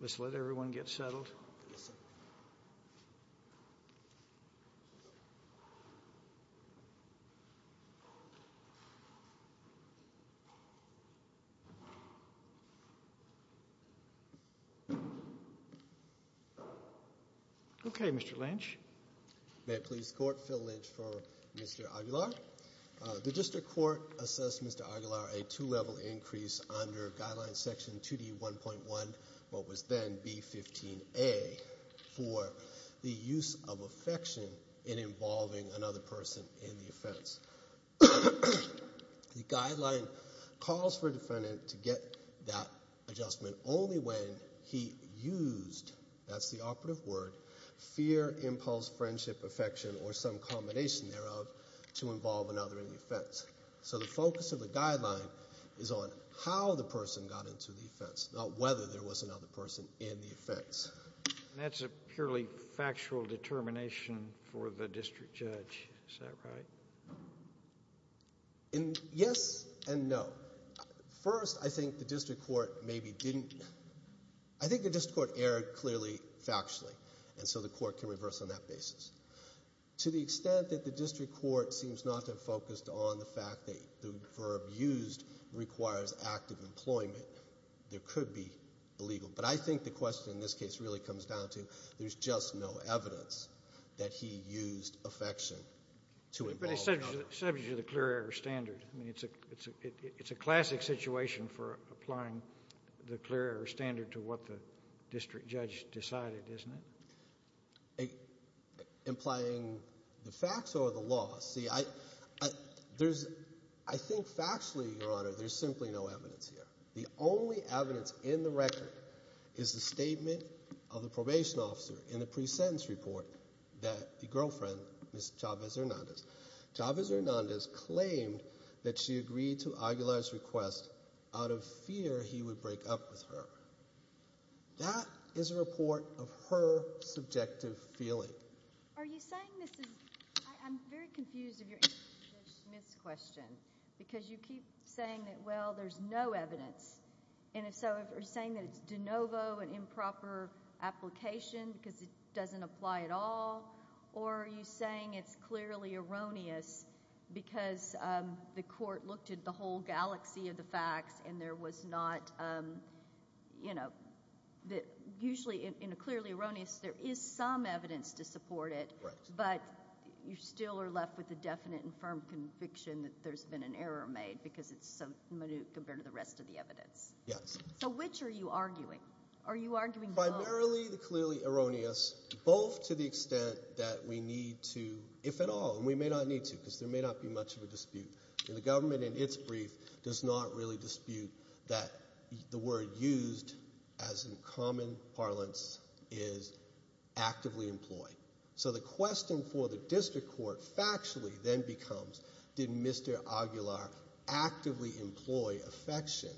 Let's let everyone get settled. Okay Mr. Lynch. May it please the Court, Phil Lynch for Mr. Aguilar. The District Court assessed Mr. Aguilar a two-level increase under Guideline Section 2D1.1, what was then B15A for the use of affection in involving another person in the offense. The guideline calls for a defendant to get that adjustment only when he used, that's affection or some combination thereof to involve another in the offense. So the focus of the guideline is on how the person got into the offense, not whether there was another person in the offense. That's a purely factual determination for the District Judge, is that right? Yes and no. First I think the District Court maybe didn't, I think the District Court erred clearly factually and so the Court can reverse on that basis. To the extent that the District Court seems not to have focused on the fact that the verb used requires active employment, there could be illegal, but I think the question in this case really comes down to there's just no evidence that he used affection to involve another. But it's subject to the clear error standard. I mean it's a classic situation for applying the clear error standard to what the District Judge decided, isn't it? Implying the facts or the law? See I think factually, Your Honor, there's simply no evidence here. The only evidence in the record is the statement of the probation officer in the pre-sentence report that the girlfriend, Ms. Chavez-Hernandez, Chavez-Hernandez claimed that she agreed to Aguilar's request out of fear he would break up with her. That is a report of her subjective feeling. Are you saying this is, I'm very confused of your answer to Ms. Smith's question because you keep saying that well there's no evidence and if so, are you saying that it's de novo an improper application because it doesn't apply at all or are you saying it's clearly erroneous because the court looked at the whole galaxy of the facts and there was not, you know, usually in a clearly erroneous, there is some evidence to support it but you still are left with the definite and firm conviction that there's been an error made because it's so minute compared to the rest of the evidence. Yes. So which are you arguing? Are you arguing both? Primarily the clearly erroneous. Both to the extent that we need to, if at all, and we may not need to because there may not be much of a dispute. The government in its brief does not really dispute that the word used as in common parlance is actively employed. So the question for the district court factually then becomes did Mr. Aguilar actively employ affection?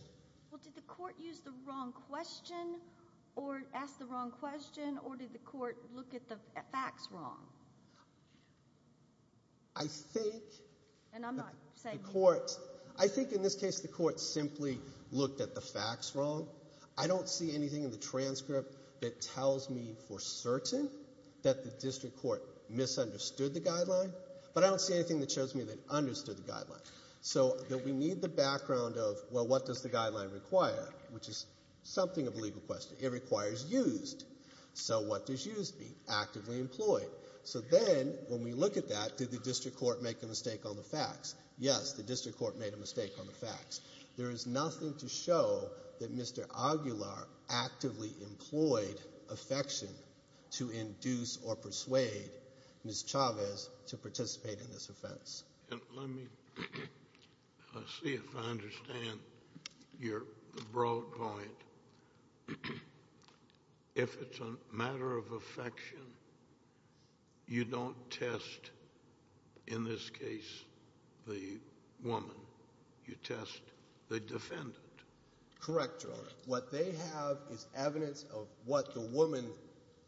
Well, did the court use the wrong question or ask the wrong question or did the court look at the facts wrong? I think the court, I think in this case the court simply looked at the facts wrong. I don't see anything in the transcript that tells me for certain that the district court misunderstood the guideline but I don't see anything that shows me they understood the guideline required which is something of a legal question. It requires used. So what does used mean? Actively employed. So then when we look at that, did the district court make a mistake on the facts? Yes. The district court made a mistake on the facts. There is nothing to show that Mr. Aguilar actively employed affection to induce or persuade Ms. Chavez to participate in this offense. Let me see if I understand your broad point. If it's a matter of affection, you don't test in this case the woman. You test the defendant. Correct Your Honor. What they have is evidence of what the woman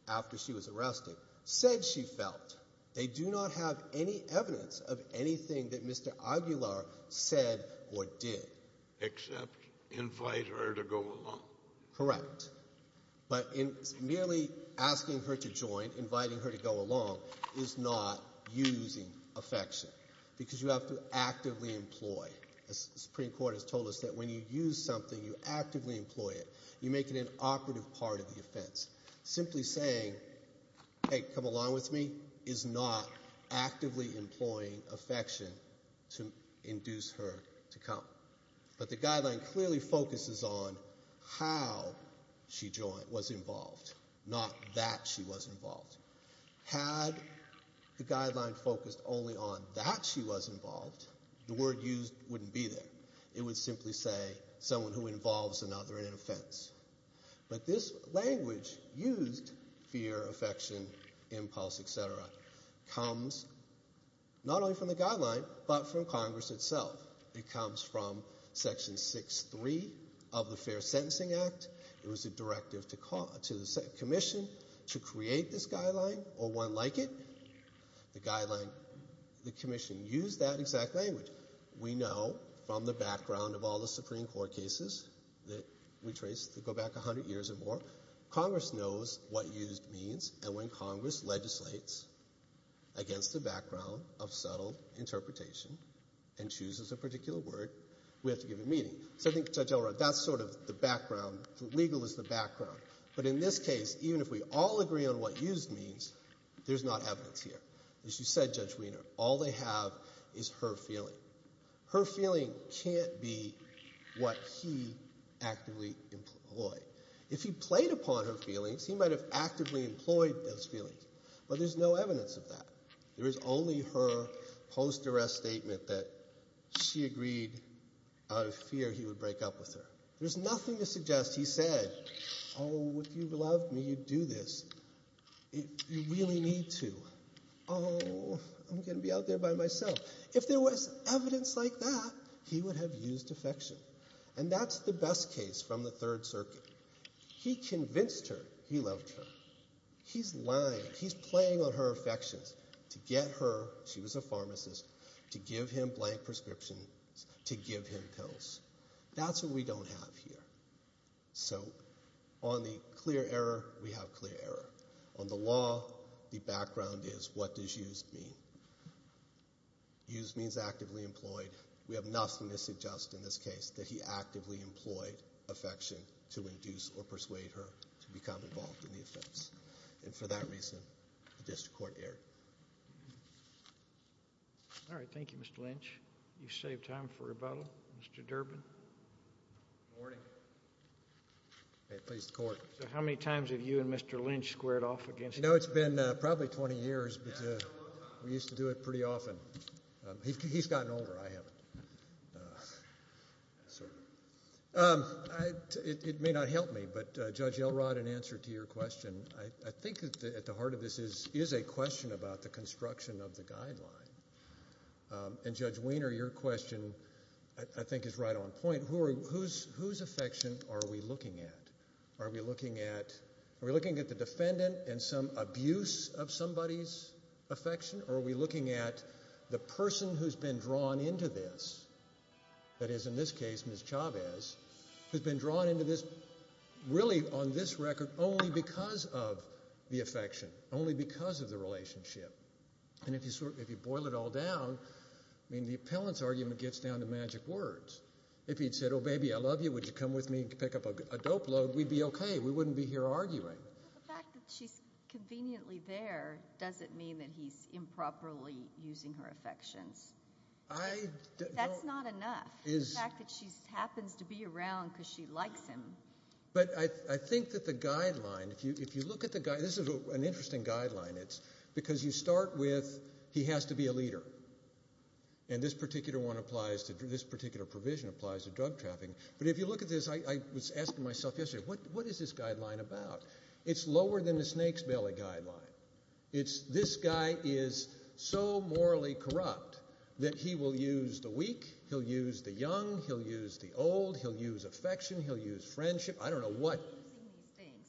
after she was arrested said she felt. They do not have any evidence of anything that Mr. Aguilar said or did. Except invite her to go along. Correct. But in merely asking her to join, inviting her to go along is not using affection because you have to actively employ. The Supreme Court has told us that when you use something, you actively employ it. You make it an operative part of the offense. Simply saying, hey, come along with me, is not actively employing affection to induce her to come. But the guideline clearly focuses on how she was involved, not that she was involved. Had the guideline focused only on that she was involved, the word used wouldn't be there. It would simply say someone who involves another in an offense. But this language used, fear, affection, impulse, etc., comes not only from the guideline, but from Congress itself. It comes from Section 6.3 of the Fair Sentencing Act. It was a directive to the commission to create this guideline or one like it. The guideline, the commission used that exact language. We know from the background of all the Supreme Court cases that we trace to go back 100 years or more, Congress knows what used means. And when Congress legislates against the background of subtle interpretation and chooses a particular word, we have to give a meaning. So I think Judge Elrod, that's sort of the background. The legal is the background. But in this case, even if we all agree on what used means, there's not evidence here. As you said, Judge Wiener, all they have is her feeling. Her feeling can't be what he actively employed. If he played upon her feelings, he might have actively employed those feelings. But there's no evidence of that. There is only her post-arrest statement that she agreed out of fear he would break up with her. There's nothing to suggest he said, oh, if you loved me, you'd do this. If you really need to, oh, I'm going to be out there by myself. If there was evidence like that, he would have used affection. And that's the best case from the Third Circuit. He convinced her he loved her. He's lying. He's playing on her affections to get her, she was a pharmacist, to give him blank prescriptions, to give him pills. That's what we don't have here. So on the clear error, we have clear error. On the law, the background is what does used mean? Used means actively employed. We have nothing to suggest in this case that he actively employed affection to induce or persuade her to become involved in the offense. And for that reason, the district court erred. All right. Thank you, Mr. Lynch. You've saved time for rebuttal. Mr. Durbin. Good morning. May it please the court. How many times have you and Mr. Lynch squared off against each other? No, it's been probably 20 years, but we used to do it pretty often. He's gotten older, I haven't. It may not help me, but Judge Elrod, in answer to your question, I think at the heart of this is a question about the construction of the guideline. And Judge Weiner, your question, I think is right on point. Whose affection are we looking at? Are we looking at the defendant and some abuse of somebody's affection? Are we looking at the person who's been drawn into this? That is, in this case, Ms. Chavez, who's been drawn into this, really on this record, only because of the affection, only because of the relationship. And if you boil it all down, I mean, the appellant's argument gets down to magic words. If he'd said, oh, baby, I love you, would you come with me and pick up a dope load, we'd be okay. We wouldn't be here arguing. But the fact that she's conveniently there doesn't mean that he's improperly using her affections. That's not enough. The fact that she happens to be around because she likes him. But I think that the guideline, if you look at the guideline, this is an interesting guideline. It's because you start with, he has to be a leader. And this particular provision applies to drug trafficking. But if you look at this, I was asking myself yesterday, what is this guideline about? It's lower than the snake's belly guideline. This guy is so morally corrupt that he will use the weak, he'll use the young, he'll use the old, he'll use affection, he'll use friendship. I don't know what.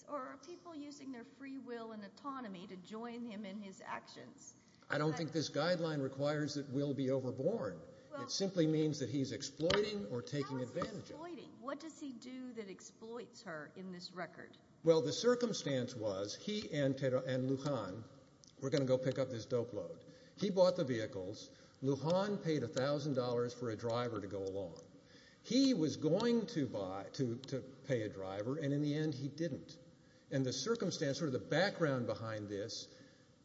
Or are people using their free will and autonomy to join him in his actions? I don't think this guideline requires that we'll be overborn. It simply means that he's exploiting or taking advantage. What does he do that exploits her in this record? Well, the circumstance was he and Lujan were going to go pick up this dope load. He bought the vehicles. Lujan paid $1,000 for a driver to go along. He was going to buy, to pay a driver, and in the end he didn't. And the circumstance, sort of the background behind this,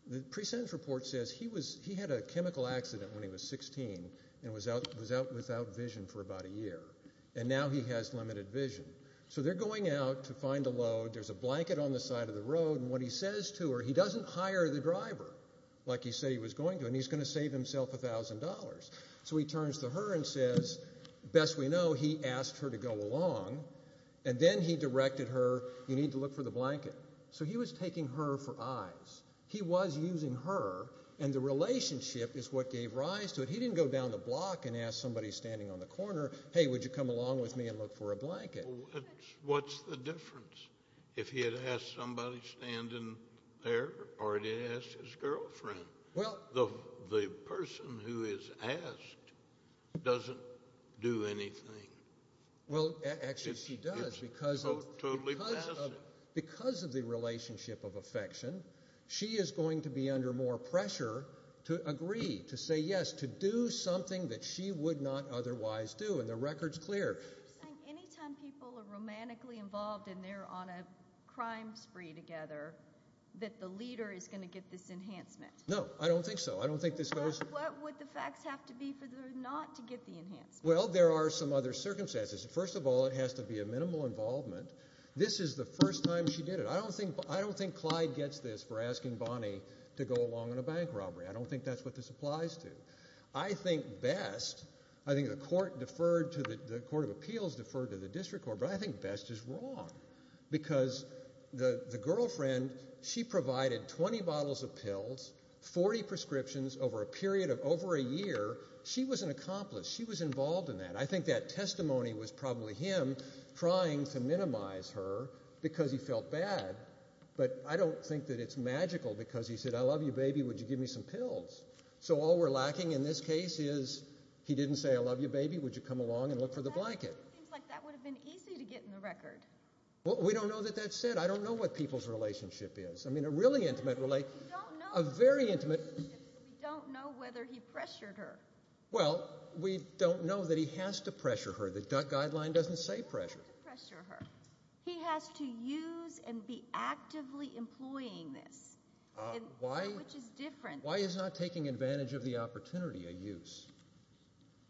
the present report says he had a chemical accident when he was 16 and was out without vision for about a year. And now he has limited vision. So they're going out to find a load. There's a blanket on the side of the road. And what he says to her, he doesn't hire the driver like he said he was going to. And he's going to save himself $1,000. So he turns to her and says, best we know, he asked her to go along. And then he directed her, you need to look for the blanket. So he was taking her for eyes. He was using her. And the relationship is what gave rise to it. He didn't go down the block and ask somebody standing on the corner, hey, would you come along with me and look for a blanket? What's the difference if he had asked somebody standing there or he asked his girlfriend? The person who is asked doesn't do anything. Well, actually, she does because of the relationship of affection. She is going to be under more pressure to agree, to say yes, to do something that she would not otherwise do. And the record's clear. Anytime people are romantically involved and they're on a crime spree together, that the leader is going to get this enhancement. No, I don't think so. I don't think this goes. What would the facts have to be for her not to get the enhancement? Well, there are some other circumstances. First of all, it has to be a minimal involvement. This is the first time she did it. I don't think Clyde gets this for asking Bonnie to go along on a bank robbery. I don't think that's what this applies to. I think best, I think the court deferred to the court of appeals, deferred to the district court, but I think best is wrong. Because the girlfriend, she provided 20 bottles of pills, 40 prescriptions over a period of over a year. She was an accomplice. She was involved in that. I think that testimony was probably him trying to minimize her because he felt bad. But I don't think that it's magical because he said, I love you, baby. Would you give me some pills? So all we're lacking in this case is he didn't say, I love you, baby. Would you come along and look for the blanket? It seems like that would have been easy to get in the record. We don't know that that's said. I don't know what people's relationship is. I mean, a really intimate relationship, a very intimate. We don't know whether he pressured her. Well, we don't know that he has to pressure her. The guideline doesn't say pressure. He has to use and be actively employing this, which is different. Why is not taking advantage of the opportunity a use?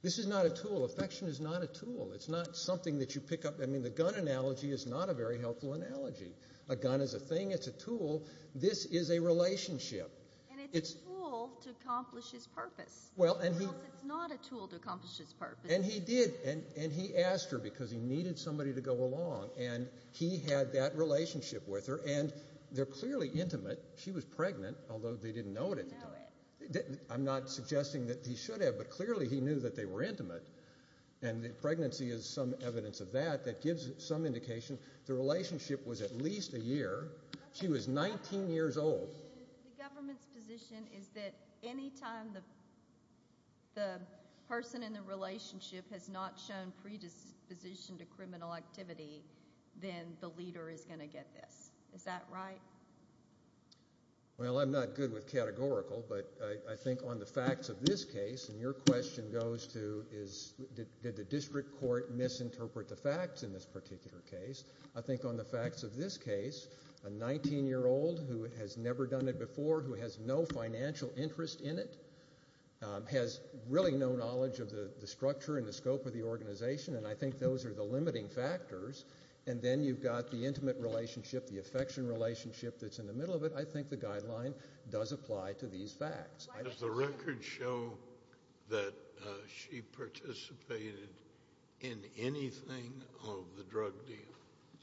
This is not a tool. Affection is not a tool. It's not something that you pick up. I mean, the gun analogy is not a very helpful analogy. A gun is a thing. It's a tool. This is a relationship. And it's a tool to accomplish his purpose. Well, and he's not a tool to accomplish his purpose. And he did. And he asked her because he needed somebody to go along. And he had that relationship with her. And they're clearly intimate. She was pregnant, although they didn't know it. I'm not suggesting that he should have, but clearly he knew that they were intimate. And the pregnancy is some evidence of that. That gives some indication. The relationship was at least a year. She was 19 years old. The government's position is that anytime the person in the relationship has not shown predisposition to criminal activity, then the leader is going to get this. Is that right? Well, I'm not good with categorical, but I think on the facts of this case, and your question goes to is did the district court misinterpret the facts in this particular case, I think on the facts of this case, a 19-year-old who has never done it before, who has no financial interest in it, has really no knowledge of the structure and the scope of the organization. And I think those are the limiting factors. And then you've got the intimate relationship, the affection relationship that's in the middle of it. I think the guideline does apply to these facts. Does the record show that she participated in anything of the drug deal?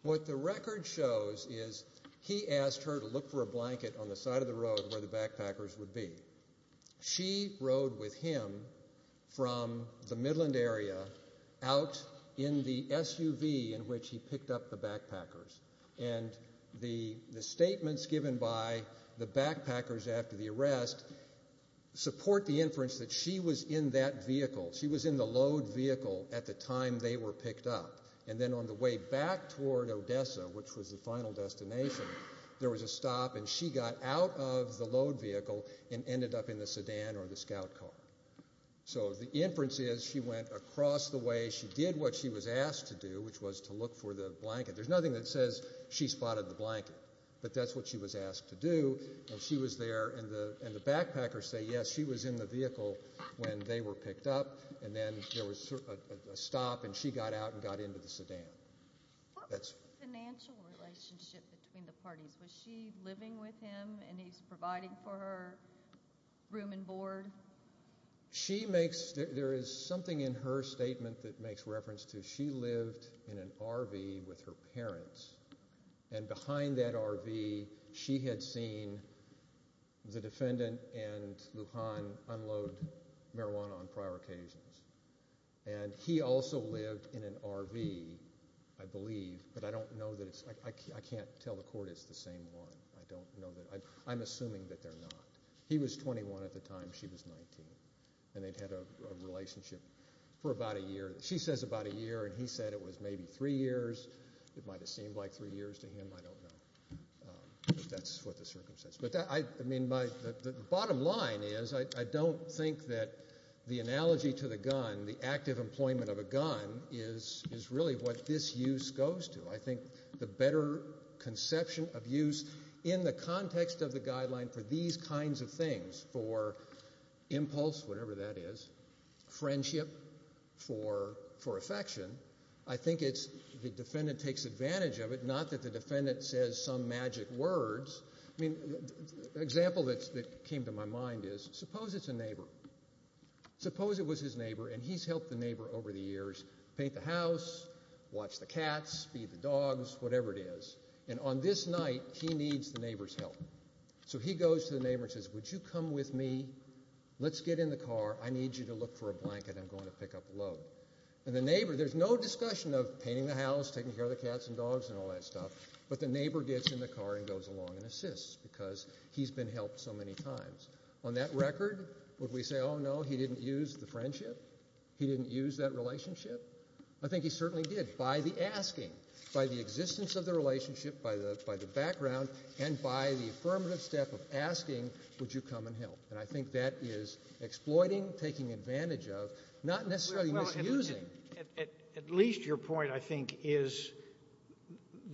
What the record shows is he asked her to look for a blanket on the side of the road where the backpackers would be. She rode with him from the Midland area out in the SUV in which he picked up the backpackers. And the statements given by the backpackers after the arrest support the inference that she was in that vehicle. She was in the load vehicle at the time they were picked up. And then on the way back toward Odessa, which was the final destination, there was a stop and she got out of the load vehicle and ended up in the sedan or the scout car. So the inference is she went across the way. She did what she was asked to do, which was to look for the blanket. There's nothing that says she spotted the blanket, but that's what she was asked to do. And she was there. And the backpackers say, yes, she was in the vehicle when they were picked up. And then there was a stop and she got out and got into the sedan. What was the financial relationship between the parties? Was she living with him and he's providing for her room and board? She makes, there is something in her statement that makes reference to she lived in an RV with her parents and behind that RV, she had seen the defendant and Lujan unload marijuana on prior occasions. And he also lived in an RV, I believe, but I don't know that it's, I can't tell the court it's the same one. I don't know that. I'm assuming that they're not. He was 21 at the time she was 19 and they'd had a relationship for about a year. She says about a year and he said it was maybe three years. It might have seemed like three years to him. I don't know if that's what the circumstance, but I mean, my bottom line is I don't think that the analogy to the gun, the active employment of a gun is really what this use goes to. I think the better conception of use in the context of the guideline for these kinds of for affection, I think it's the defendant takes advantage of it, not that the defendant says some magic words. I mean, the example that came to my mind is suppose it's a neighbor. Suppose it was his neighbor and he's helped the neighbor over the years, paint the house, watch the cats, feed the dogs, whatever it is. And on this night, he needs the neighbor's help. So he goes to the neighbor and says, would you come with me? Let's get in the car. I need you to look for a blanket. I'm going to pick up the load. And the neighbor, there's no discussion of painting the house, taking care of the cats and dogs and all that stuff. But the neighbor gets in the car and goes along and assists because he's been helped so many times. On that record, would we say, oh, no, he didn't use the friendship? He didn't use that relationship? I think he certainly did by the asking, by the existence of the relationship, by the background, and by the affirmative step of asking, would you come and help? And I think that is exploiting, taking advantage of, not necessarily misusing. Well, at least your point, I think, is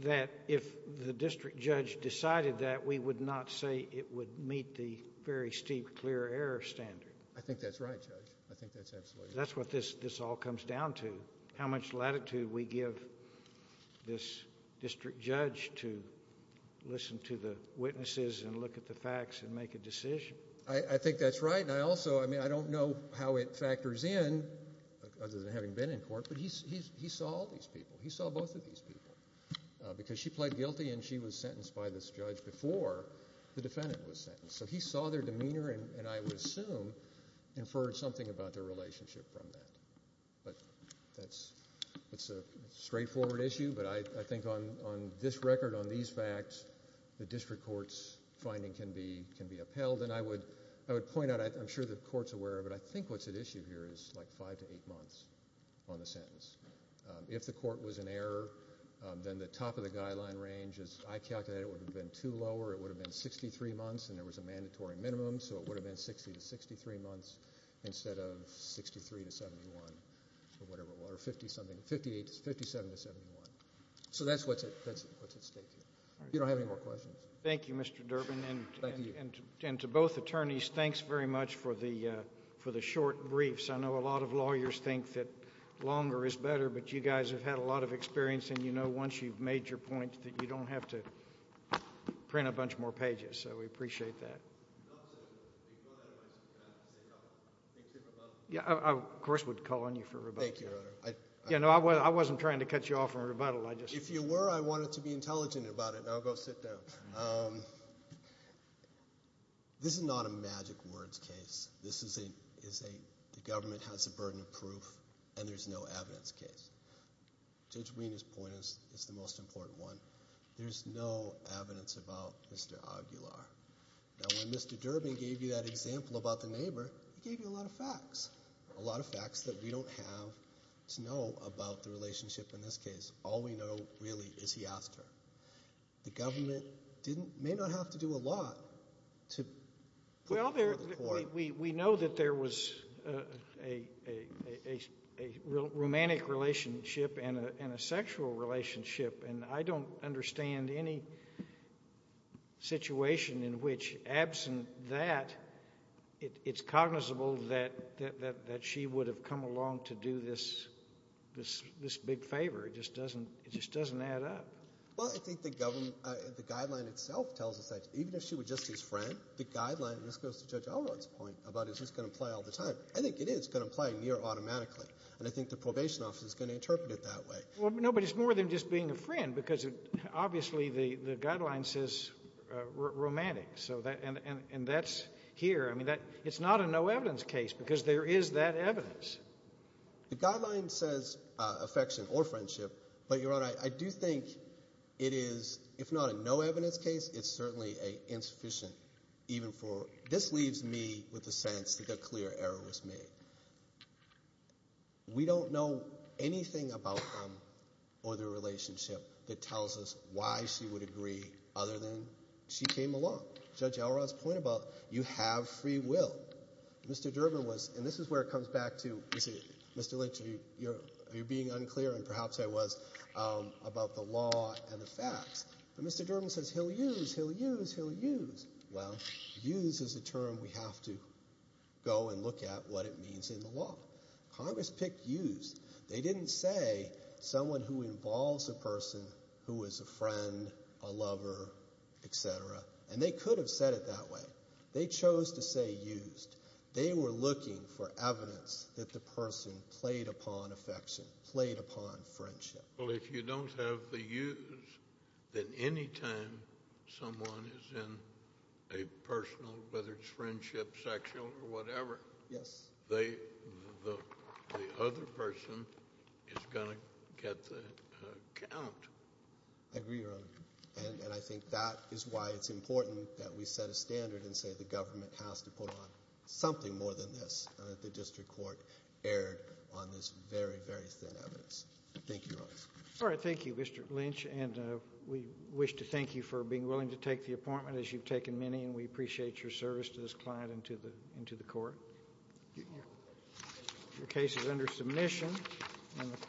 that if the district judge decided that, we would not say it would meet the very steep clear error standard. I think that's right, Judge. I think that's absolutely right. That's what this all comes down to, how much latitude we give this district judge to listen to the witnesses and look at the facts and make a decision. I think that's right. And I also, I mean, I don't know how it factors in, other than having been in court, but he saw all these people. He saw both of these people because she pled guilty and she was sentenced by this judge before the defendant was sentenced. So he saw their demeanor and, I would assume, inferred something about their relationship from that. But that's a straightforward issue. But I think on this record, on these facts, the district court's finding can be upheld. I would point out, I'm sure the court's aware of it. I think what's at issue here is like five to eight months on the sentence. If the court was in error, then the top of the guideline range, as I calculated, would have been two lower. It would have been 63 months and there was a mandatory minimum. So it would have been 60 to 63 months instead of 63 to 71 or whatever, or 50 something, 58, 57 to 71. So that's what's at stake here. You don't have any more questions? Thank you, Mr. Durbin. And to both attorneys, thanks very much for the short briefs. I know a lot of lawyers think that longer is better, but you guys have had a lot of experience and you know once you've made your point that you don't have to print a bunch more pages. So we appreciate that. Yeah, I, of course, would call on you for rebuttal. Thank you, Your Honor. Yeah, no, I wasn't trying to cut you off from rebuttal. I just... If you were, I wanted to be intelligent about it. Now go sit down. This is not a magic words case. This is a, the government has a burden of proof and there's no evidence case. Judge Wiener's point is the most important one. There's no evidence about Mr. Aguilar. Now when Mr. Durbin gave you that example about the neighbor, he gave you a lot of facts, a lot of facts that we don't have to know about the relationship in this case. All we know really is he asked her. The government didn't, may not have to do a lot to... Well, we know that there was a romantic relationship and a sexual relationship and I don't understand any situation in which, absent that, it's cognizable that she would have come along to do this big favor. It just doesn't, it just doesn't add up. Well, I think the government, the guideline itself tells us that even if she was just his friend, the guideline, and this goes to Judge Alron's point about is this going to play all the time. I think it is going to play near automatically and I think the probation office is going to interpret it that way. Well, no, but it's more than just being a friend because obviously the guideline says romantic, so that, and that's here. I mean that, it's not a no evidence case because there is that evidence. The guideline says affection or friendship, but Your Honor, I do think it is, if not a no evidence case, it's certainly a insufficient, even for, this leaves me with a sense that a clear error was made. We don't know anything about them or their relationship that tells us why she would agree other than she came along. Judge Alron's point about you have free will. Mr. Durbin was, and this is where it comes back to, Mr. Lynch, you're being unclear and perhaps I was about the law and the facts, but Mr. Durbin says he'll use, he'll use, he'll use. Well, use is a term we have to go and look at what it means in the law. Congress picked use. They didn't say someone who involves a person who is a friend, a lover, et cetera, and they could have said it that way. They chose to say used. They were looking for evidence that the person played upon affection, played upon friendship. Well, if you don't have the use, then any time someone is in a personal, whether it's friendship, sexual, or whatever, the other person is going to get the count. I agree, Your Honor. And I think that is why it's important that we set a standard and say the government has to put on something more than this and that the district court erred on this very, very thin evidence. Thank you, Your Honor. All right. Thank you, Mr. Lynch, and we wish to thank you for being willing to take the appointment as you've taken many, and we appreciate your service to this client and to the court. Your case is under submission.